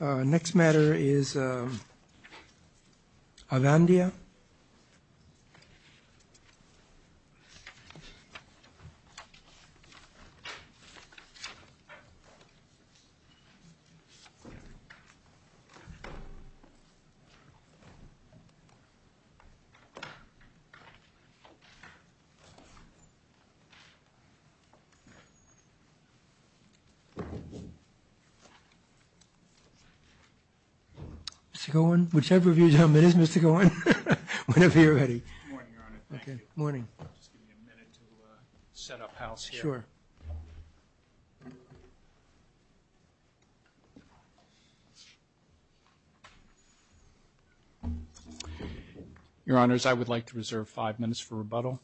Next matter is Avandia. I would like to reserve five minutes for rebuttal.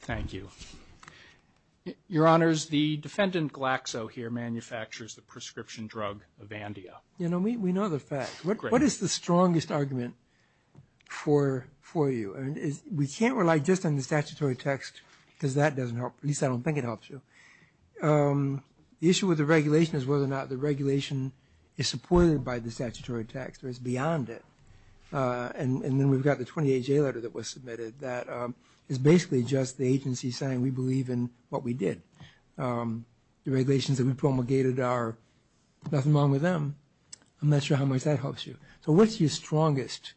Thank you. Your Honors, the defendant Glaxo here manufactures the prescription drug Avandia. You know, we know the facts. What is the strongest argument for you? We can't rely just on the statutory text because that doesn't help. At least I don't think it helps you. The issue with the regulation is whether or not the regulation is supported by the statutory text or is beyond it. And then we've got the 28-J letter that was submitted that is basically just the agency saying we believe in what we did. The regulations that we promulgated are nothing wrong with them. I'm not sure how much that helps you. So what's your strongest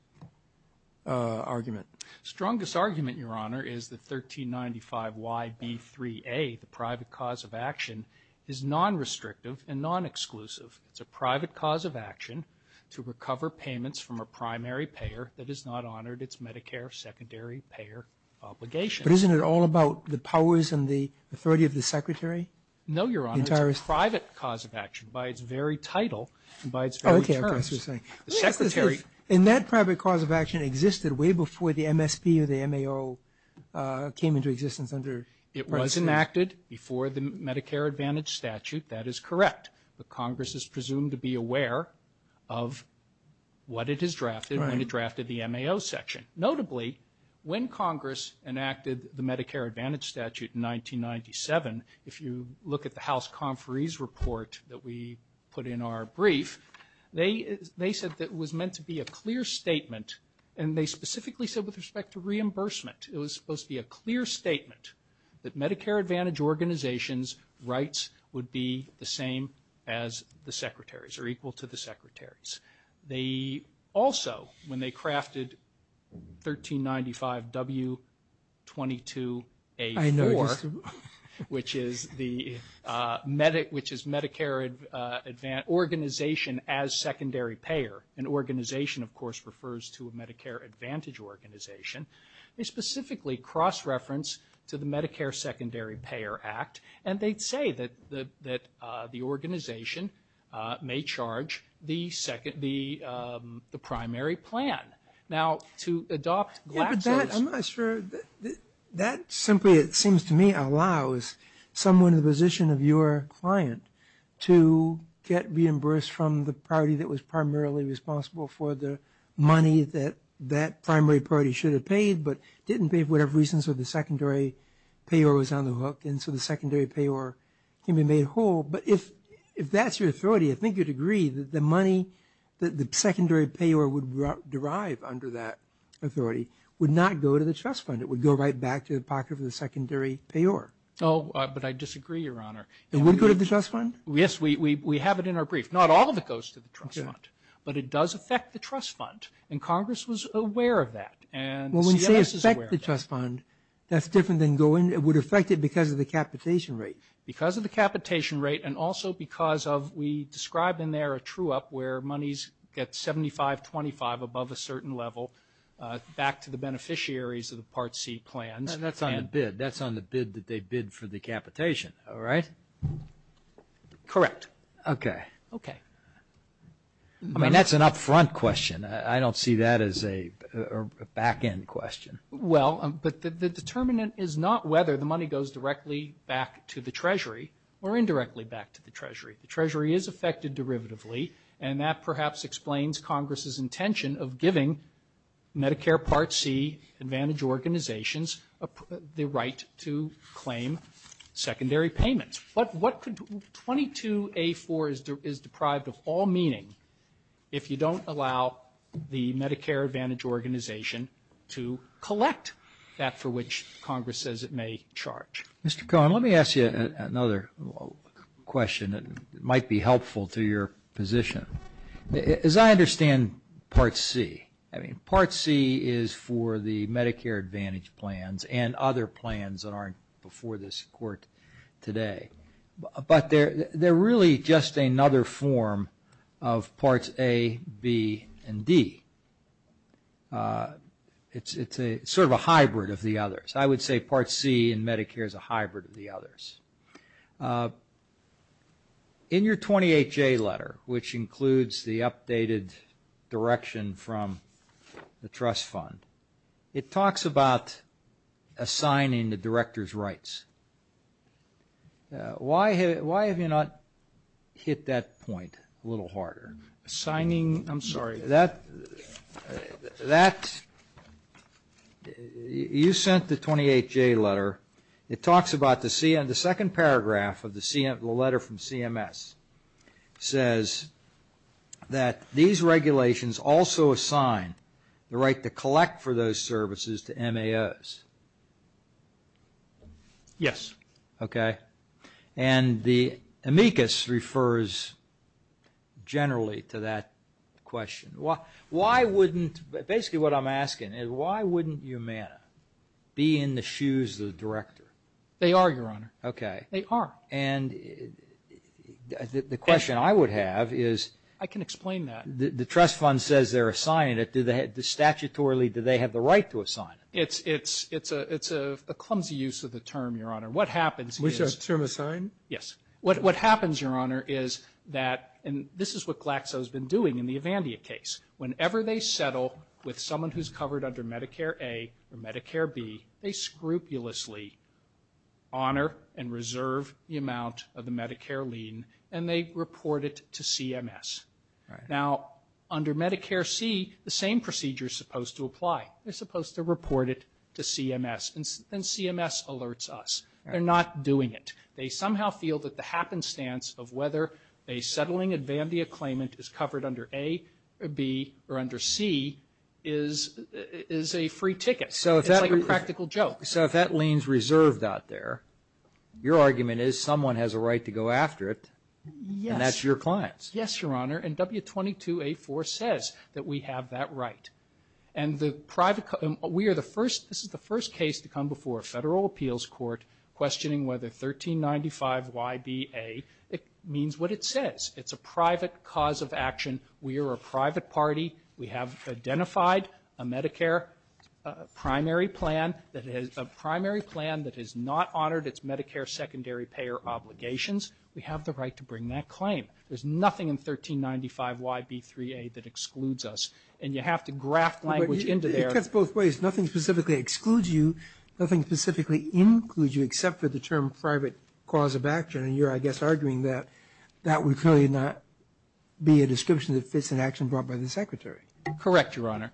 argument? Strongest argument, Your Honor, is that 1395YB3A, the private cause of action, is non-restrictive and non-exclusive. It's a private cause of action to recover payments from a primary payer that is not honored. It's Medicare secondary payer obligation. But isn't it all about the powers and the authority of the Secretary? No, Your Honor. It's a private cause of action by its very title and by its very terms. Oh, okay. I see what you're saying. The Secretary. And that private cause of action existed way before the MSP or the MAO came into existence under. It was enacted before the Medicare Advantage statute. That is correct. But Congress is presumed to be aware of what it has drafted when it drafted the MAO section. Notably, when Congress enacted the Medicare Advantage statute in 1997, if you look at the House Conferees Report that we put in our brief, they said that it was meant to be a clear statement. And they specifically said with respect to reimbursement, it was supposed to be a clear statement that Medicare Advantage organizations' rights would be the same as the Secretaries or equal to the Secretaries. They also, when they crafted 1395W22A4, which is Medicare Organization as Secondary Payer, an organization, of course, refers to a Medicare Advantage organization. They specifically cross-reference to the Medicare Secondary Payer Act, and they'd say that the organization may charge the primary plan. Now, to adopt Glaxo's. Yeah, but that, I'm not sure, that simply, it seems to me, allows someone in the position of your client to get reimbursed from the party that was primarily responsible for the money that that primary party should have paid but didn't pay for whatever reason, so the secondary payer was on the hook, and so the secondary payer can be made whole. But if that's your authority, I think you'd agree that the money that the secondary payer would derive under that authority would not go to the trust fund. It would go right back to the pocket of the secondary payer. Oh, but I disagree, Your Honor. It would go to the trust fund? Yes, we have it in our brief. Not all of it goes to the trust fund, but it does affect the trust fund, and Congress was aware of that, and CMS is aware of that. Well, when you say affect the trust fund, that's different than going, it would affect it because of the capitation rate. Because of the capitation rate and also because of, we describe in there a true-up where monies get 75-25 above a certain level back to the beneficiaries of the Part C plans. That's on the bid. That's on the bid that they bid for the capitation, all right? Correct. Okay. Okay. I mean, that's an up-front question. I don't see that as a back-end question. Well, but the determinant is not whether the money goes directly back to the Treasury or indirectly back to the Treasury. The Treasury is affected derivatively, and that perhaps explains Congress's intention of giving Medicare Part C advantage organizations the right to claim secondary payments. 22A4 is deprived of all meaning if you don't allow the Medicare Advantage organization to collect that for which Congress says it may charge. Mr. Cohen, let me ask you another question that might be helpful to your position. As I understand Part C, I mean, Part C is for the Medicare Advantage plans and other plans that aren't before this Court today. But they're really just another form of Parts A, B, and D. It's sort of a hybrid of the others. I would say Part C in Medicare is a hybrid of the others. In your 28J letter, which includes the updated direction from the trust fund, it talks about assigning the director's rights. Why have you not hit that point a little harder? Assigning, I'm sorry, that, you sent the 28J letter, it talks about the second paragraph of the letter from CMS, says that these regulations also assign the right to collect for those services to MAOs. Yes. Okay. And the amicus refers generally to that question. Why wouldn't, basically what I'm asking is why wouldn't Umana be in the shoes of the director? They are, Your Honor. Okay. They are. And the question I would have is. I can explain that. The trust fund says they're assigning it. Statutorily, do they have the right to assign it? It's a clumsy use of the term, Your Honor. What happens is. We should have the term assigned? Yes. What happens, Your Honor, is that, and this is what Glaxo has been doing in the Evandia case. Whenever they settle with someone who's covered under Medicare A or Medicare B, they scrupulously honor and reserve the amount of the Medicare lien, and they report it to CMS. Now, under Medicare C, the same procedure is supposed to apply. They're supposed to report it to CMS, and CMS alerts us. They're not doing it. They somehow feel that the happenstance of whether a settling Evandia claimant is covered under A or B or under C is a free ticket. It's like a practical joke. So if that lien's reserved out there, your argument is someone has a right to go after it. Yes. And that's your clients. Yes, Your Honor, and W22A4 says that we have that right. And the private, we are the first, this is the first case to come before a federal appeals court questioning whether 1395YBA, it means what it says. It's a private cause of action. We are a private party. We have identified a Medicare primary plan that has not honored its Medicare secondary payer obligations. We have the right to bring that claim. There's nothing in 1395YB3A that excludes us. And you have to graft language into there. It cuts both ways. Nothing specifically excludes you. Nothing specifically includes you except for the term private cause of action. And you're, I guess, arguing that that would clearly not be a description that fits an action brought by the Secretary. Correct, Your Honor.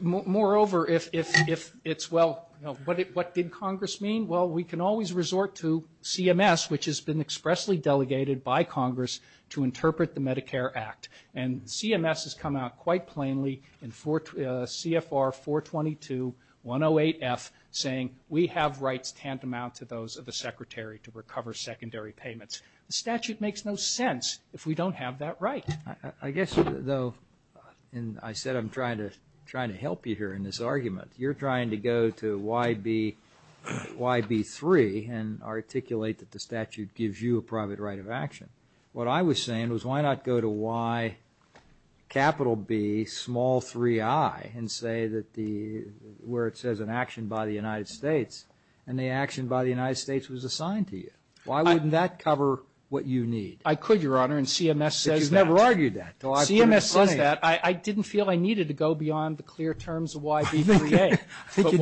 Moreover, if it's, well, what did Congress mean? Well, we can always resort to CMS, which has been expressly delegated by Congress to interpret the Medicare Act. And CMS has come out quite plainly in CFR 422-108F saying we have rights tantamount to those of the Secretary to recover secondary payments. The statute makes no sense if we don't have that right. I guess, though, and I said I'm trying to help you here in this argument, you're trying to go to YB3 and articulate that the statute gives you a private right of action. What I was saying was why not go to YB3I and say where it says an action by the United States and the action by the United States was assigned to you? Why wouldn't that cover what you need? I could, Your Honor, and CMS says that. Well, I've argued that. CMS says that. I didn't feel I needed to go beyond the clear terms of YB3A. I think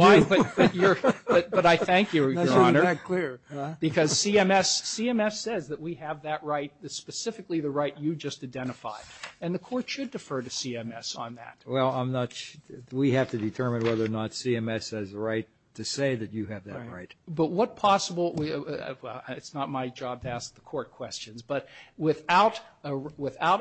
you do. But I thank you, Your Honor. That's why you're not clear. Because CMS says that we have that right, specifically the right you just identified. And the Court should defer to CMS on that. Well, I'm not sure. We have to determine whether or not CMS has the right to say that you have that right. But what possible – it's not my job to ask the Court questions. But without a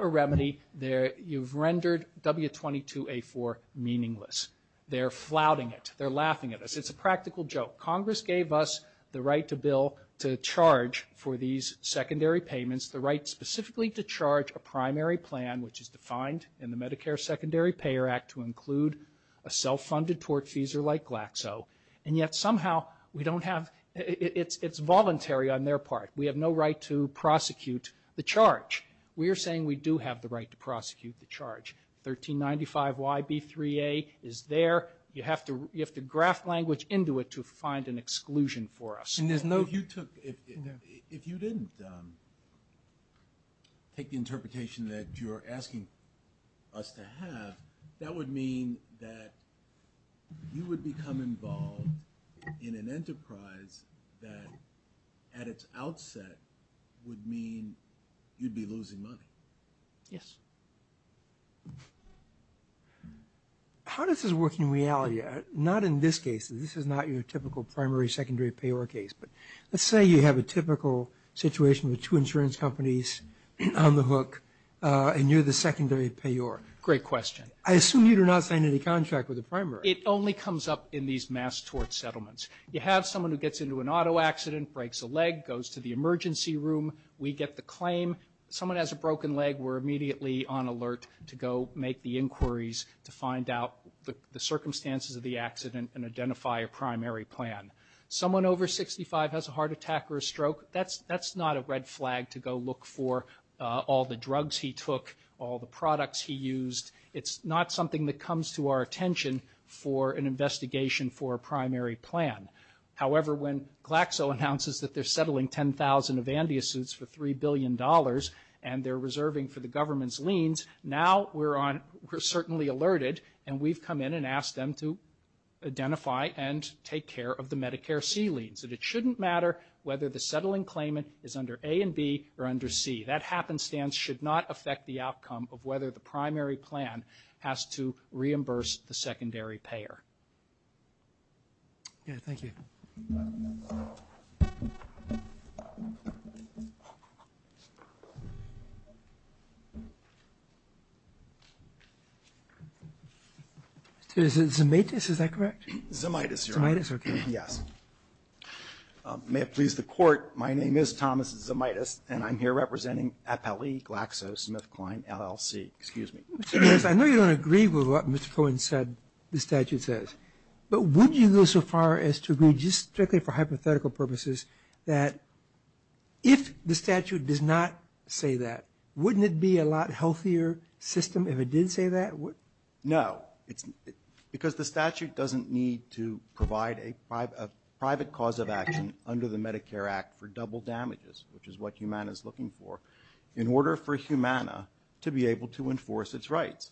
remedy, you've rendered W22A4 meaningless. They're flouting it. They're laughing at us. It's a practical joke. Congress gave us the right to bill to charge for these secondary payments, the right specifically to charge a primary plan, which is defined in the Medicare Secondary Payer Act, to include a self-funded tortfeasor like Glaxo. And yet somehow we don't have – it's voluntary on their part. We have no right to prosecute the charge. We are saying we do have the right to prosecute the charge. 1395YB3A is there. You have to graft language into it to find an exclusion for us. If you didn't take the interpretation that you're asking us to have, that would mean that you would become involved in an enterprise that at its outset would mean you'd be losing money. Yes. How does this work in reality? Not in this case. This is not your typical primary, secondary payer case. But let's say you have a typical situation with two insurance companies on the hook, and you're the secondary payer. Great question. I assume you do not sign any contract with the primary. It only comes up in these mass tort settlements. You have someone who gets into an auto accident, breaks a leg, goes to the emergency room. We get the claim. Someone has a broken leg, we're immediately on alert to go make the inquiries to find out the circumstances of the accident and identify a primary plan. Someone over 65 has a heart attack or a stroke, that's not a red flag to go look for all the drugs he took, all the products he used. It's not something that comes to our attention for an investigation for a primary plan. However, when Glaxo announces that they're settling 10,000 Avandia suits for $3 billion and they're reserving for the government's liens, now we're certainly alerted and we've come in and asked them to identify and take care of the Medicare C liens. It shouldn't matter whether the settling claimant is under A and B or under C. That happenstance should not affect the outcome of whether the primary plan has to reimburse the secondary payer. Thank you. Is it Zimitis, is that correct? Zimitis, Your Honor. Zimitis, okay. Yes. May it please the Court, my name is Thomas Zimitis and I'm here representing FLE Glaxo SmithKline LLC. Excuse me. I know you don't agree with what Mr. Cohen said, the statute says, but would you go so far as to agree just strictly for hypothetical purposes that if the statute does not say that, wouldn't it be a lot healthier system if it did say that? No, because the statute doesn't need to provide a private cause of action under the Medicare Act for double damages, which is what Humana is looking for, in order for Humana to be able to enforce its rights.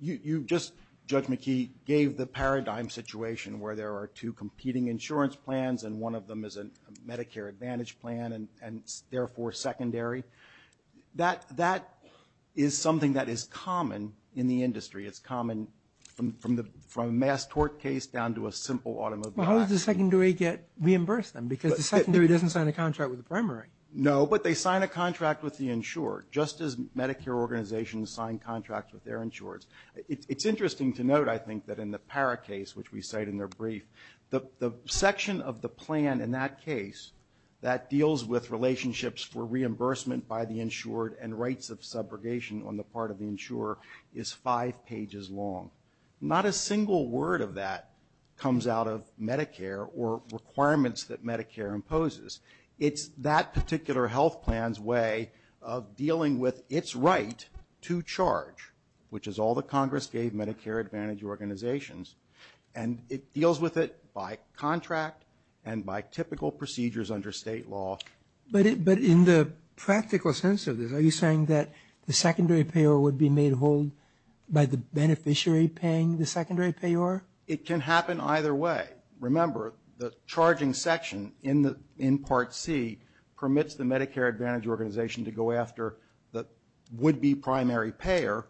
You just, Judge McKee, gave the paradigm situation where there are two competing insurance plans and one of them is a Medicare Advantage plan and therefore secondary. That is something that is common in the industry. It's common from a mass tort case down to a simple automobile accident. Well, how does the secondary reimburse them? Because the secondary doesn't sign a contract with the primary. No, but they sign a contract with the insured, just as Medicare organizations sign contracts with their insureds. It's interesting to note, I think, that in the Parra case, which we cite in their brief, the section of the plan in that case that deals with relationships for reimbursement by the insured and rights of subrogation on the part of the insurer is five pages long. Not a single word of that comes out of Medicare or requirements that Medicare imposes. It's that particular health plan's way of dealing with its right to charge, which is all that Congress gave Medicare Advantage organizations, and it deals with it by contract and by typical procedures under state law. But in the practical sense of this, are you saying that the secondary payor would be made whole by the beneficiary paying the secondary payor? It can happen either way. Remember, the charging section in Part C permits the Medicare Advantage organization to go after the would-be primary payer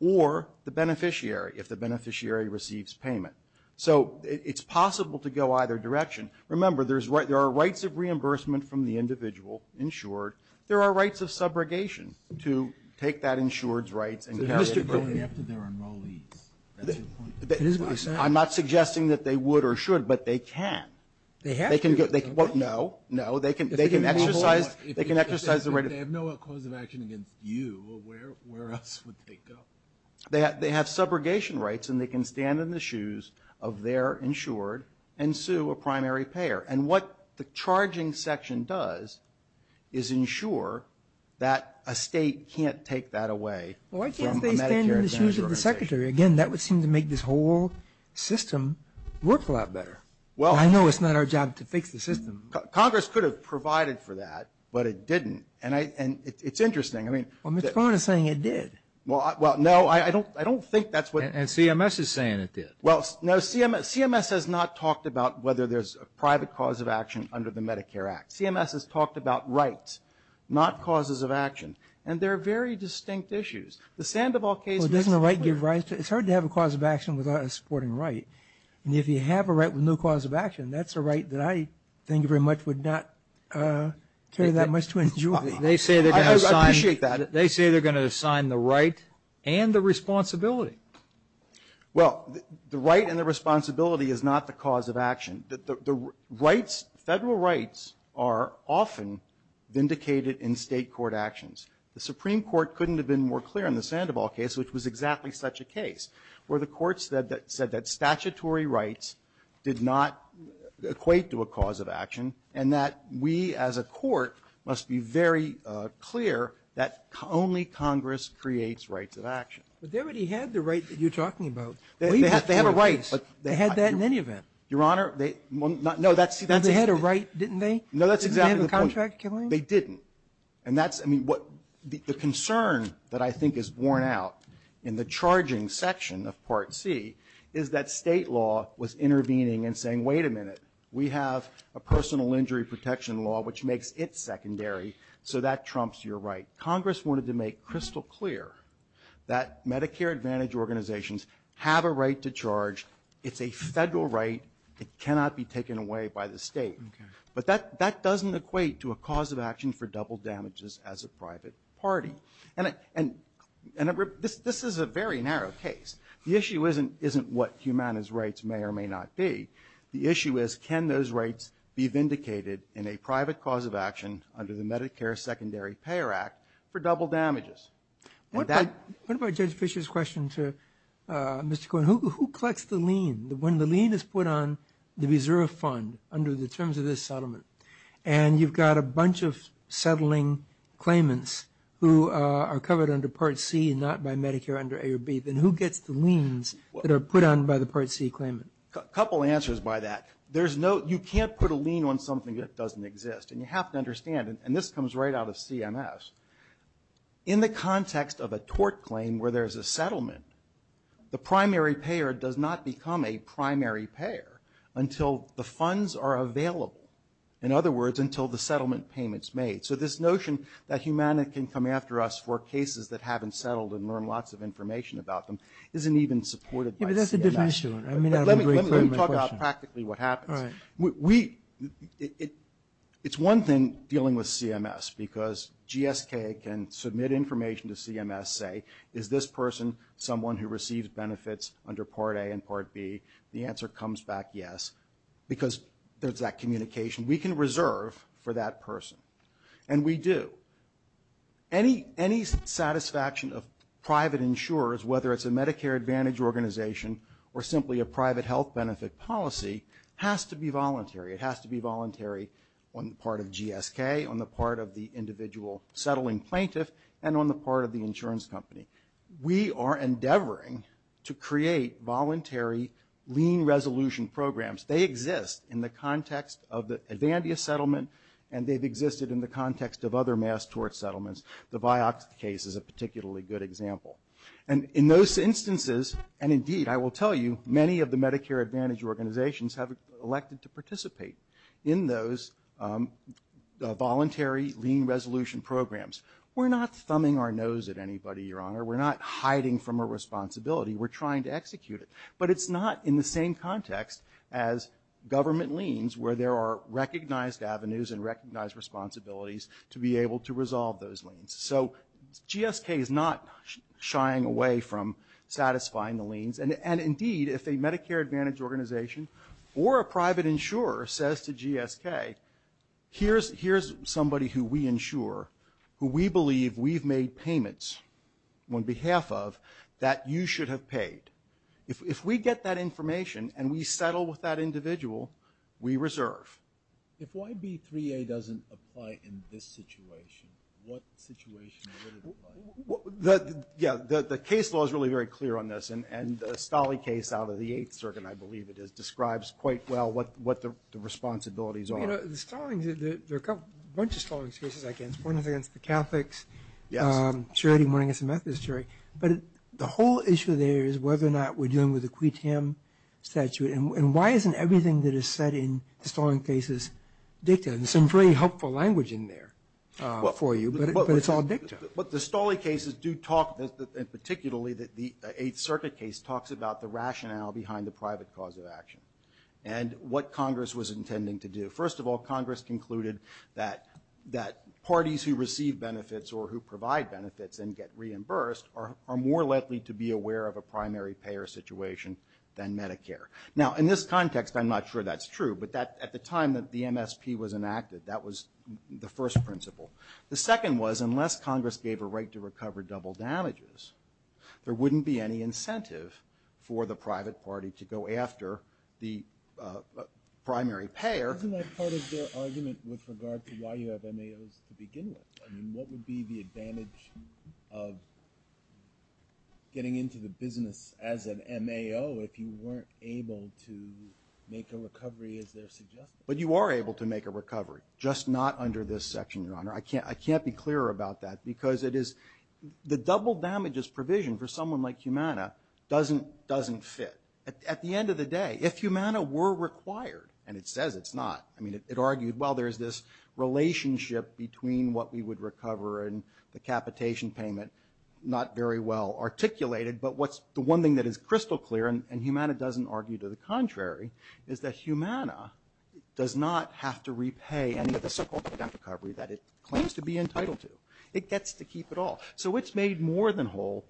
or the beneficiary if the beneficiary receives payment. So it's possible to go either direction. Remember, there are rights of reimbursement from the individual insured. There are rights of subrogation to take that insured's rights and carry it forward. I'm not suggesting that they would or should, but they can. They have to. No. No. They can exercise the right. If they have no cause of action against you, where else would they go? They have subrogation rights, and they can stand in the shoes of their insured and sue a primary payer. And what the charging section does is ensure that a state can't take that away from a Medicare Advantage organization. Why can't they stand in the shoes of the secretary? Again, that would seem to make this whole system work a lot better. I know it's not our job to fix the system. Congress could have provided for that, but it didn't. And it's interesting. Well, Mr. Cohen is saying it did. Well, no, I don't think that's what. And CMS is saying it did. Well, no, CMS has not talked about whether there's a private cause of action under the Medicare Act. CMS has talked about rights, not causes of action. And they're very distinct issues. The Sandoval case. Well, doesn't the right give rights? It's hard to have a cause of action without a supporting right. And if you have a right with no cause of action, that's a right that I think very much would not carry that much to injury. I appreciate that. They say they're going to assign the right and the responsibility. Well, the right and the responsibility is not the cause of action. The rights, Federal rights are often vindicated in State court actions. The Supreme Court couldn't have been more clear in the Sandoval case, which was exactly such a case, where the courts said that statutory rights did not equate to a cause of action, and that we as a court must be very clear that only Congress creates rights of action. But they already had the right that you're talking about. They have a right. They had that in any event. Your Honor, they no, that's. They had a right, didn't they? No, that's exactly the point. Didn't they have a contract killing? They didn't. And that's, I mean, what the concern that I think is worn out in the charging section of Part C is that State law was intervening and saying, wait a minute, we have a personal injury protection law which makes it secondary, so that trumps your right. Congress wanted to make crystal clear that Medicare Advantage organizations have a right to charge. It's a Federal right. It cannot be taken away by the State. Okay. But that doesn't equate to a cause of action for double damages as a private party. And this is a very narrow case. The issue isn't what Humana's rights may or may not be. The issue is, can those rights be vindicated in a private cause of action under the Medicare Secondary Payer Act for double damages? What about Judge Fischer's question to Mr. Cohen? Who collects the lien? When the lien is put on the reserve fund under the terms of this settlement and you've got a bunch of settling claimants who are covered under Part C and not by Medicare under A or B, then who gets the liens that are put on by the Part C claimant? A couple answers by that. There's no, you can't put a lien on something that doesn't exist. And you have to understand. And this comes right out of CMS. In the context of a tort claim where there's a settlement, the primary payer does not become a primary payer until the funds are available. In other words, until the settlement payment's made. So this notion that Humana can come after us for cases that haven't settled and learn lots of information about them isn't even supported by CMS. Yeah, but that's a different issue. Let me talk about practically what happens. All right. It's one thing dealing with CMS because GSK can submit information to CMS, say, is this person someone who receives benefits under Part A and Part B? The answer comes back yes because there's that communication. We can reserve for that person. And we do. Any satisfaction of private insurers, whether it's a Medicare Advantage organization or simply a private health benefit policy has to be voluntary. It has to be voluntary on the part of GSK, on the part of the individual settling plaintiff, and on the part of the insurance company. We are endeavoring to create voluntary lien resolution programs. They exist in the context of the Advantia settlement, and they've existed in the context of other mass tort settlements. The Vioxx case is a particularly good example. And in those instances, and indeed I will tell you, many of the Medicare Advantage organizations have elected to participate in those voluntary lien resolution programs. We're not thumbing our nose at anybody, Your Honor. We're not hiding from a responsibility. We're trying to execute it. But it's not in the same context as government liens where there are recognized avenues and recognized responsibilities to be able to resolve those liens. So GSK is not shying away from satisfying the liens. And indeed, if a Medicare Advantage organization or a private insurer says to GSK, here's somebody who we insure, who we believe we've made payments on behalf of, that you should have paid. If we get that information and we settle with that individual, we reserve. If YB3A doesn't apply in this situation, what situation would it apply in? Yeah, the case law is really very clear on this. And the Stolle case out of the Eighth Circuit, I believe it is, describes quite well what the responsibilities are. Well, you know, the Stollings, there are a bunch of Stollings cases. I can't support anything against the Catholics. Yes. I'm sure anyone against the Methodist Church. But the whole issue there is whether or not we're dealing with a qui tam statute. And why isn't everything that is said in the Stollings cases dictated? There's some very helpful language in there for you, but it's all dictated. But the Stollings cases do talk, particularly the Eighth Circuit case talks about the rationale behind the private cause of action and what Congress was intending to do. First of all, Congress concluded that parties who receive benefits or who provide benefits and get reimbursed are more likely to be aware of a primary payer situation than Medicare. Now, in this context, I'm not sure that's true. But at the time that the MSP was enacted, that was the first principle. The second was, unless Congress gave a right to recover double damages, there wouldn't be any incentive for the private party to go after the primary payer. Isn't that part of their argument with regard to why you have MAOs to begin with? I mean, what would be the advantage of getting into the business as an MAO if you weren't able to make a recovery as they're suggesting? But you are able to make a recovery, just not under this section, Your Honor. I can't be clearer about that because it is the double damages provision for someone like Humana doesn't fit. At the end of the day, if Humana were required, and it says it's not. I mean, it argued, well, there's this relationship between what we would recover and the capitation payment, not very well articulated. But what's the one thing that is crystal clear, and Humana doesn't argue to the contrary, is that Humana does not have to repay any of the so-called debt recovery that it claims to be entitled to. It gets to keep it all. So it's made more than whole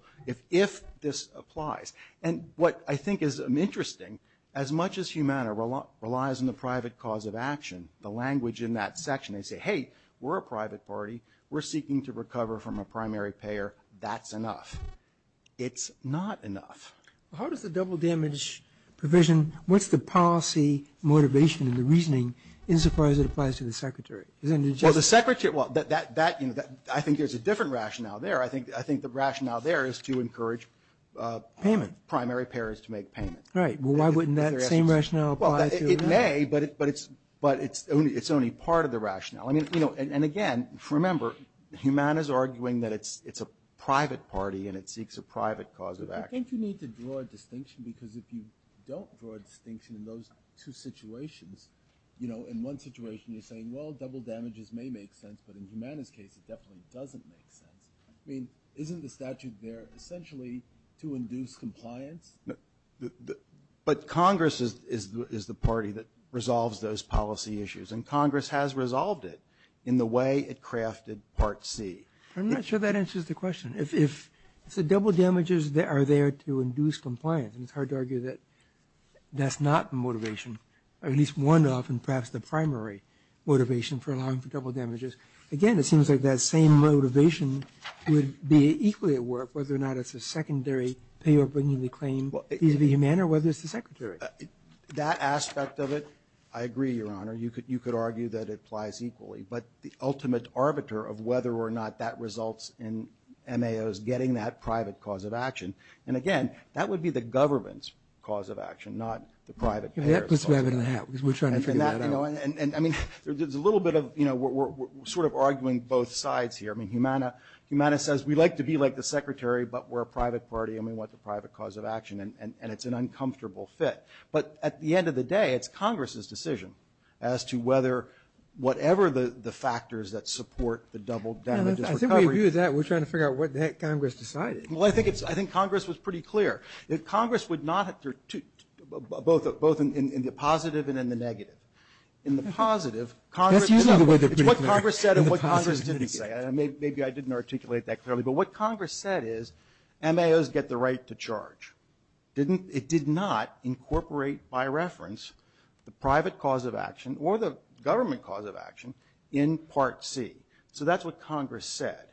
if this applies. And what I think is interesting, as much as Humana relies on the private cause of action, the language in that section, they say, hey, we're a private party. We're seeking to recover from a primary payer. That's enough. It's not enough. How does the double damage provision, what's the policy motivation and the reasoning as far as it applies to the Secretary? Well, the Secretary, I think there's a different rationale there. I think the rationale there is to encourage payment, primary payers to make payments. Right. Well, why wouldn't that same rationale apply to Humana? It may, but it's only part of the rationale. I mean, you know, and again, remember, Humana is arguing that it's a private party and it seeks a private cause of action. But don't you need to draw a distinction? Because if you don't draw a distinction in those two situations, you know, in one situation you're saying, well, double damages may make sense, but in Humana's case it definitely doesn't make sense. I mean, isn't the statute there essentially to induce compliance? But Congress is the party that resolves those policy issues. And Congress has resolved it in the way it crafted Part C. I'm not sure that answers the question. If the double damages are there to induce compliance, and it's hard to argue that that's not the motivation, or at least one of, and perhaps the primary motivation for allowing for double damages, again, it seems like that same motivation would be equally at work whether or not it's a secondary payer bringing the claim vis-a-vis Humana or whether it's the Secretary. That aspect of it, I agree, Your Honor. You could argue that it applies equally. But the ultimate arbiter of whether or not that results in MAOs getting that private cause of action. And, again, that would be the government's cause of action, not the private payer's cause of action. That puts it back under the hat, because we're trying to figure that out. I mean, there's a little bit of, you know, we're sort of arguing both sides here. I mean, Humana says we like to be like the Secretary, but we're a private party and we want the private cause of action, and it's an uncomfortable fit. But at the end of the day, it's Congress's decision as to whether or not whatever the factors that support the double damages recovery. And I think we view that, we're trying to figure out what the heck Congress decided. Well, I think it's – I think Congress was pretty clear. Congress would not – both in the positive and in the negative. In the positive, Congress – That's usually the way they're pretty clear. It's what Congress said and what Congress didn't say. Maybe I didn't articulate that clearly. But what Congress said is MAOs get the right to charge. It did not incorporate by reference the private cause of action or the government cause of action in Part C. So that's what Congress said.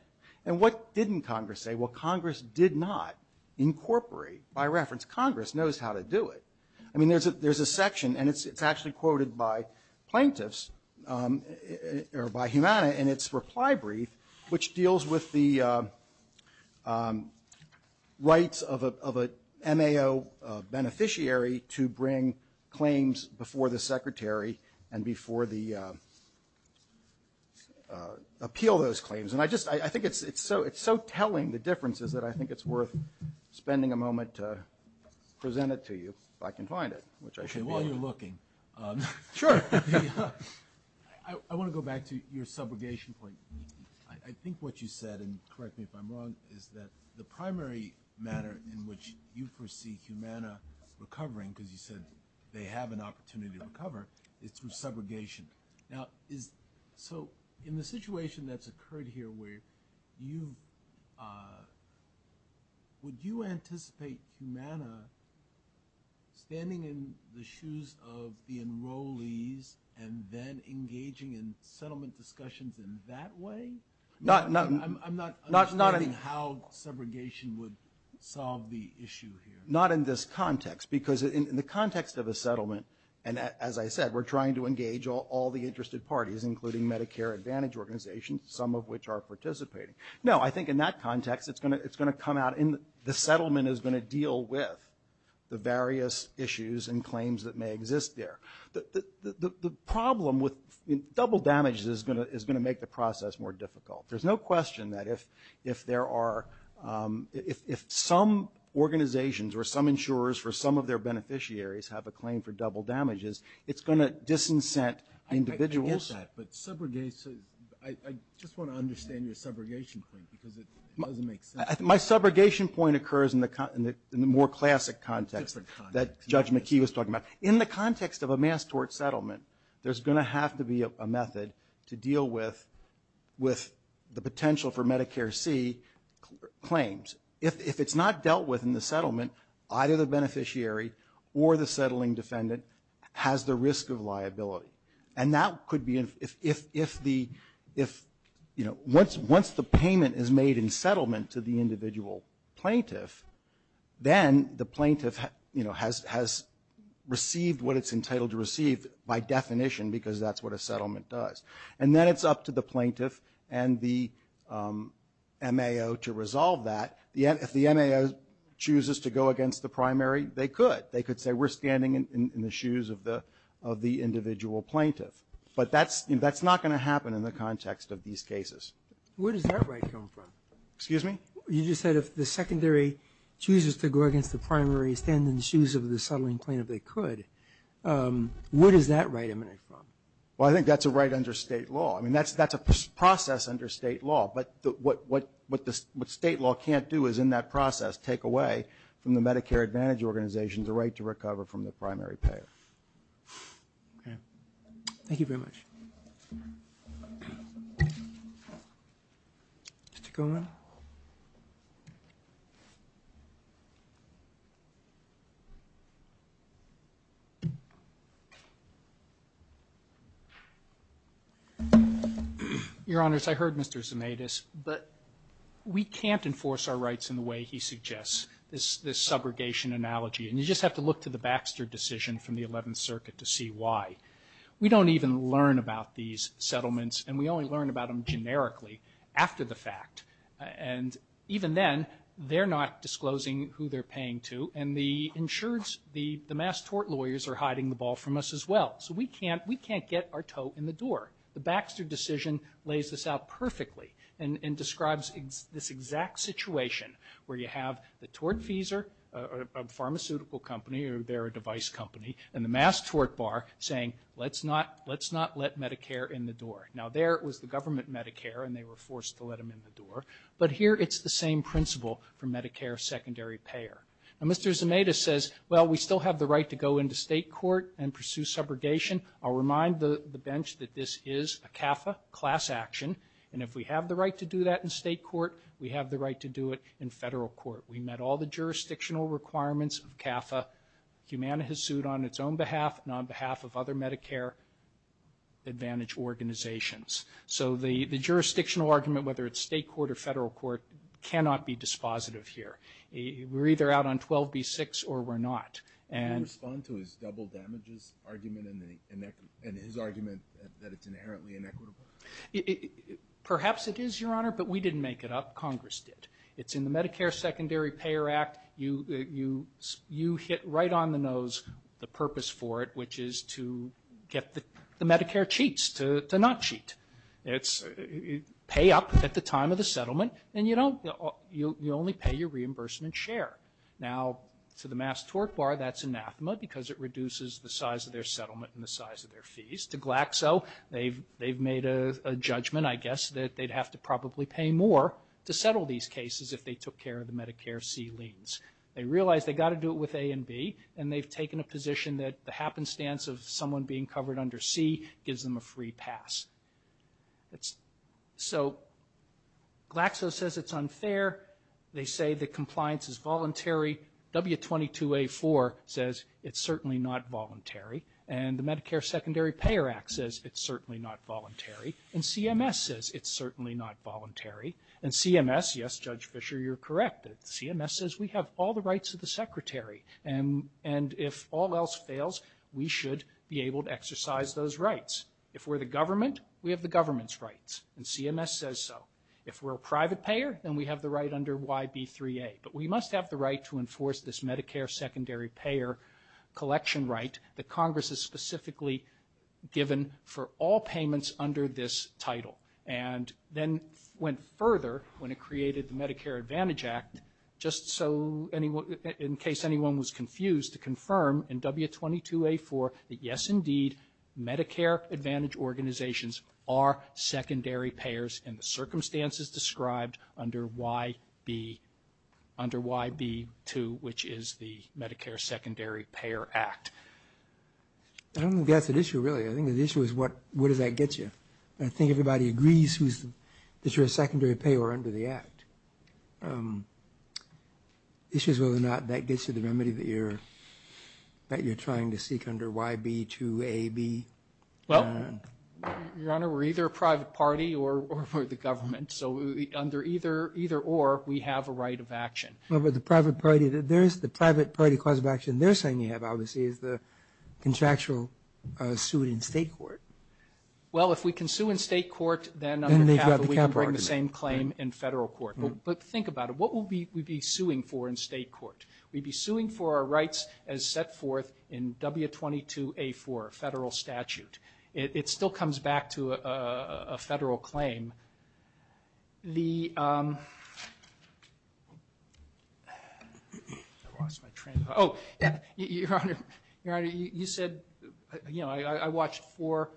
And what didn't Congress say? Well, Congress did not incorporate by reference. Congress knows how to do it. I mean, there's a section, and it's actually quoted by plaintiffs – or by Humana in its reply brief, which deals with the rights of an MAO beneficiary to bring claims before the Secretary and before the – appeal those claims. And I just – I think it's so telling, the differences, that I think it's worth spending a moment to present it to you, if I can find it, which I should be. Okay, while you're looking – Sure. I want to go back to your subrogation point. I think what you said – and correct me if I'm wrong – is that the primary manner in which you foresee Humana recovering, because you said they have an opportunity to recover, is through subrogation. Now, is – so in the situation that's occurred here where you've – would you anticipate Humana standing in the shoes of the enrollees and then engaging in settlement discussions in that way? I'm not understanding how subrogation would solve the issue here. Not in this context, because in the context of a settlement – and as I said, we're trying to engage all the interested parties, including Medicare Advantage organizations, some of which are participating. No, I think in that context, it's going to come out in – the settlement is going to deal with the various issues and claims that may exist there. The problem with – double damage is going to make the process more difficult. There's no question that if there are – if some organizations or some insurers or some of their beneficiaries have a claim for double damages, it's going to disincent individuals. I get that, but subrogation – I just want to understand your subrogation point, because it doesn't make sense. My subrogation point occurs in the more classic context that Judge McKee was talking about. In the context of a mass tort settlement, there's going to have to be a method to deal with the potential for Medicare C claims. If it's not dealt with in the settlement, either the beneficiary or the settling defendant has the risk of liability. And that could be – if the – once the payment is made in settlement to the individual plaintiff, then the plaintiff has received what it's entitled to receive by definition because that's what a settlement does. And then it's up to the plaintiff and the MAO to resolve that. If the MAO chooses to go against the primary, they could. They could say we're standing in the shoes of the individual plaintiff. But that's not going to happen in the context of these cases. Where does that right come from? Excuse me? You just said if the secondary chooses to go against the primary, stand in the shoes of the settling plaintiff, they could. Where does that right emanate from? Well, I think that's a right under state law. I mean, that's a process under state law. But what state law can't do is, in that process, take away from the Medicare Advantage Organization the right to recover from the primary payer. Okay. Thank you very much. Mr. Komen? Your Honors, I heard Mr. Zemedis, but we can't enforce our rights in the way he suggests, this subrogation analogy. And you just have to look to the Baxter decision from the Eleventh Circuit to see why. We don't even learn about these settlements, and we only learn about them generically after the fact. And even then, they're not disclosing who they're paying to, and the insurance, the mass tort lawyers are hiding the ball from us as well. So we can't get our toe in the door. The Baxter decision lays this out perfectly and describes this exact situation where you have the tort feeser, a pharmaceutical company, or they're a device company, and the mass tort bar saying, let's not let Medicare in the door. Now, there it was the government Medicare, and they were forced to let them in the door. But here it's the same principle for Medicare secondary payer. Now, Mr. Zemedis says, well, we still have the right to go into state court and pursue subrogation. I'll remind the bench that this is a CAFA class action, and if we have the right to do that in state court, we have the right to do it in federal court. We met all the jurisdictional requirements of CAFA. Humana has sued on its own behalf and on behalf of other Medicare advantage organizations. So the jurisdictional argument, whether it's state court or federal court, cannot be dispositive here. We're either out on 12B6 or we're not. And respond to his double damages argument and his argument that it's inherently inequitable? Perhaps it is, Your Honor, but we didn't make it up. Congress did. It's in the Medicare secondary payer act. You hit right on the nose the purpose for it, which is to get the Medicare cheats to not cheat. It's pay up at the time of the settlement, and you only pay your reimbursement share. Now, to the mass tort bar, that's anathema because it reduces the size of their settlement and the size of their fees. To Glaxo, they've made a judgment, I guess, that they'd have to probably pay more to settle these cases if they took care of the Medicare C liens. They realize they've got to do it with A and B, and they've taken a position that the happenstance of someone being covered under C gives them a free pass. So Glaxo says it's unfair. They say the compliance is voluntary. W22A4 says it's certainly not voluntary. And the Medicare secondary payer act says it's certainly not voluntary. And CMS says it's certainly not voluntary. And CMS, yes, Judge Fischer, you're correct. CMS says we have all the rights of the secretary, and if all else fails, we should be able to exercise those rights. If we're the government, we have the government's rights, and CMS says so. If we're a private payer, then we have the right under YB3A. But we must have the right to enforce this Medicare secondary payer collection right that Congress has specifically given for all payments under this title. And then went further when it created the Medicare Advantage Act, just in case anyone was confused, to confirm in W22A4 that, yes, indeed, Medicare Advantage organizations are secondary payers in the circumstances described under YB2, which is the Medicare secondary payer act. I don't think that's an issue, really. I think the issue is what does that get you? I think everybody agrees that you're a secondary payer under the act. The issue is whether or not that gets you the remedy that you're trying to seek under YB2AB. Well, Your Honor, we're either a private party or the government. So under either or, we have a right of action. Well, but the private party, the private party cause of action they're saying you have, obviously, is the contractual suit in state court. Well, if we can sue in state court, then we can bring the same claim in federal court. But think about it. What would we be suing for in state court? We'd be suing for our rights as set forth in W22A4, federal statute. It still comes back to a federal claim. The – I lost my train of thought. Oh, Your Honor, you said, you know, I watched four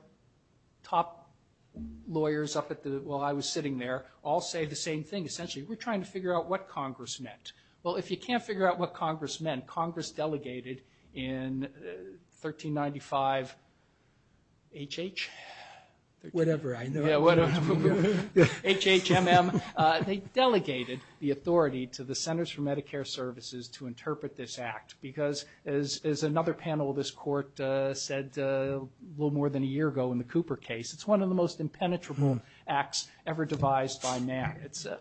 top lawyers up at the – while I was sitting there all say the same thing. Essentially, we're trying to figure out what Congress meant. Well, if you can't figure out what Congress meant, Congress delegated in 1395 H.H. Whatever, I know. Yeah, whatever. H.H.M.M. They delegated the authority to the Centers for Medicare Services to interpret this act because, as another panel of this court said a little more than a year ago in the Cooper case, it's one of the most impenetrable acts ever devised by man. So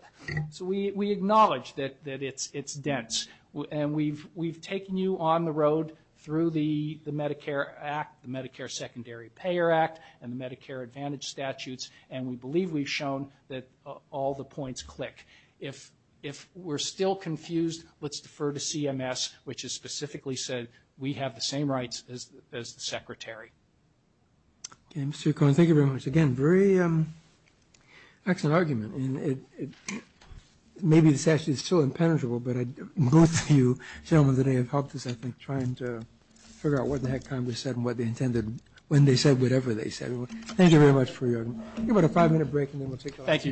we acknowledge that it's dense. And we've taken you on the road through the Medicare Act, the Medicare Secondary Payer Act, and the Medicare Advantage statutes, and we believe we've shown that all the points click. If we're still confused, let's defer to CMS, which has specifically said we have the same rights as the Secretary. Okay, Mr. Cohen, thank you very much. Again, very excellent argument. Maybe the statute is still impenetrable, but both of you gentlemen today have helped us, I think, trying to figure out what the heck Congress said and what they intended when they said whatever they said. Thank you very much for your time. Give it a five-minute break, and then we'll take the last two minutes. Thank you, Your Honor.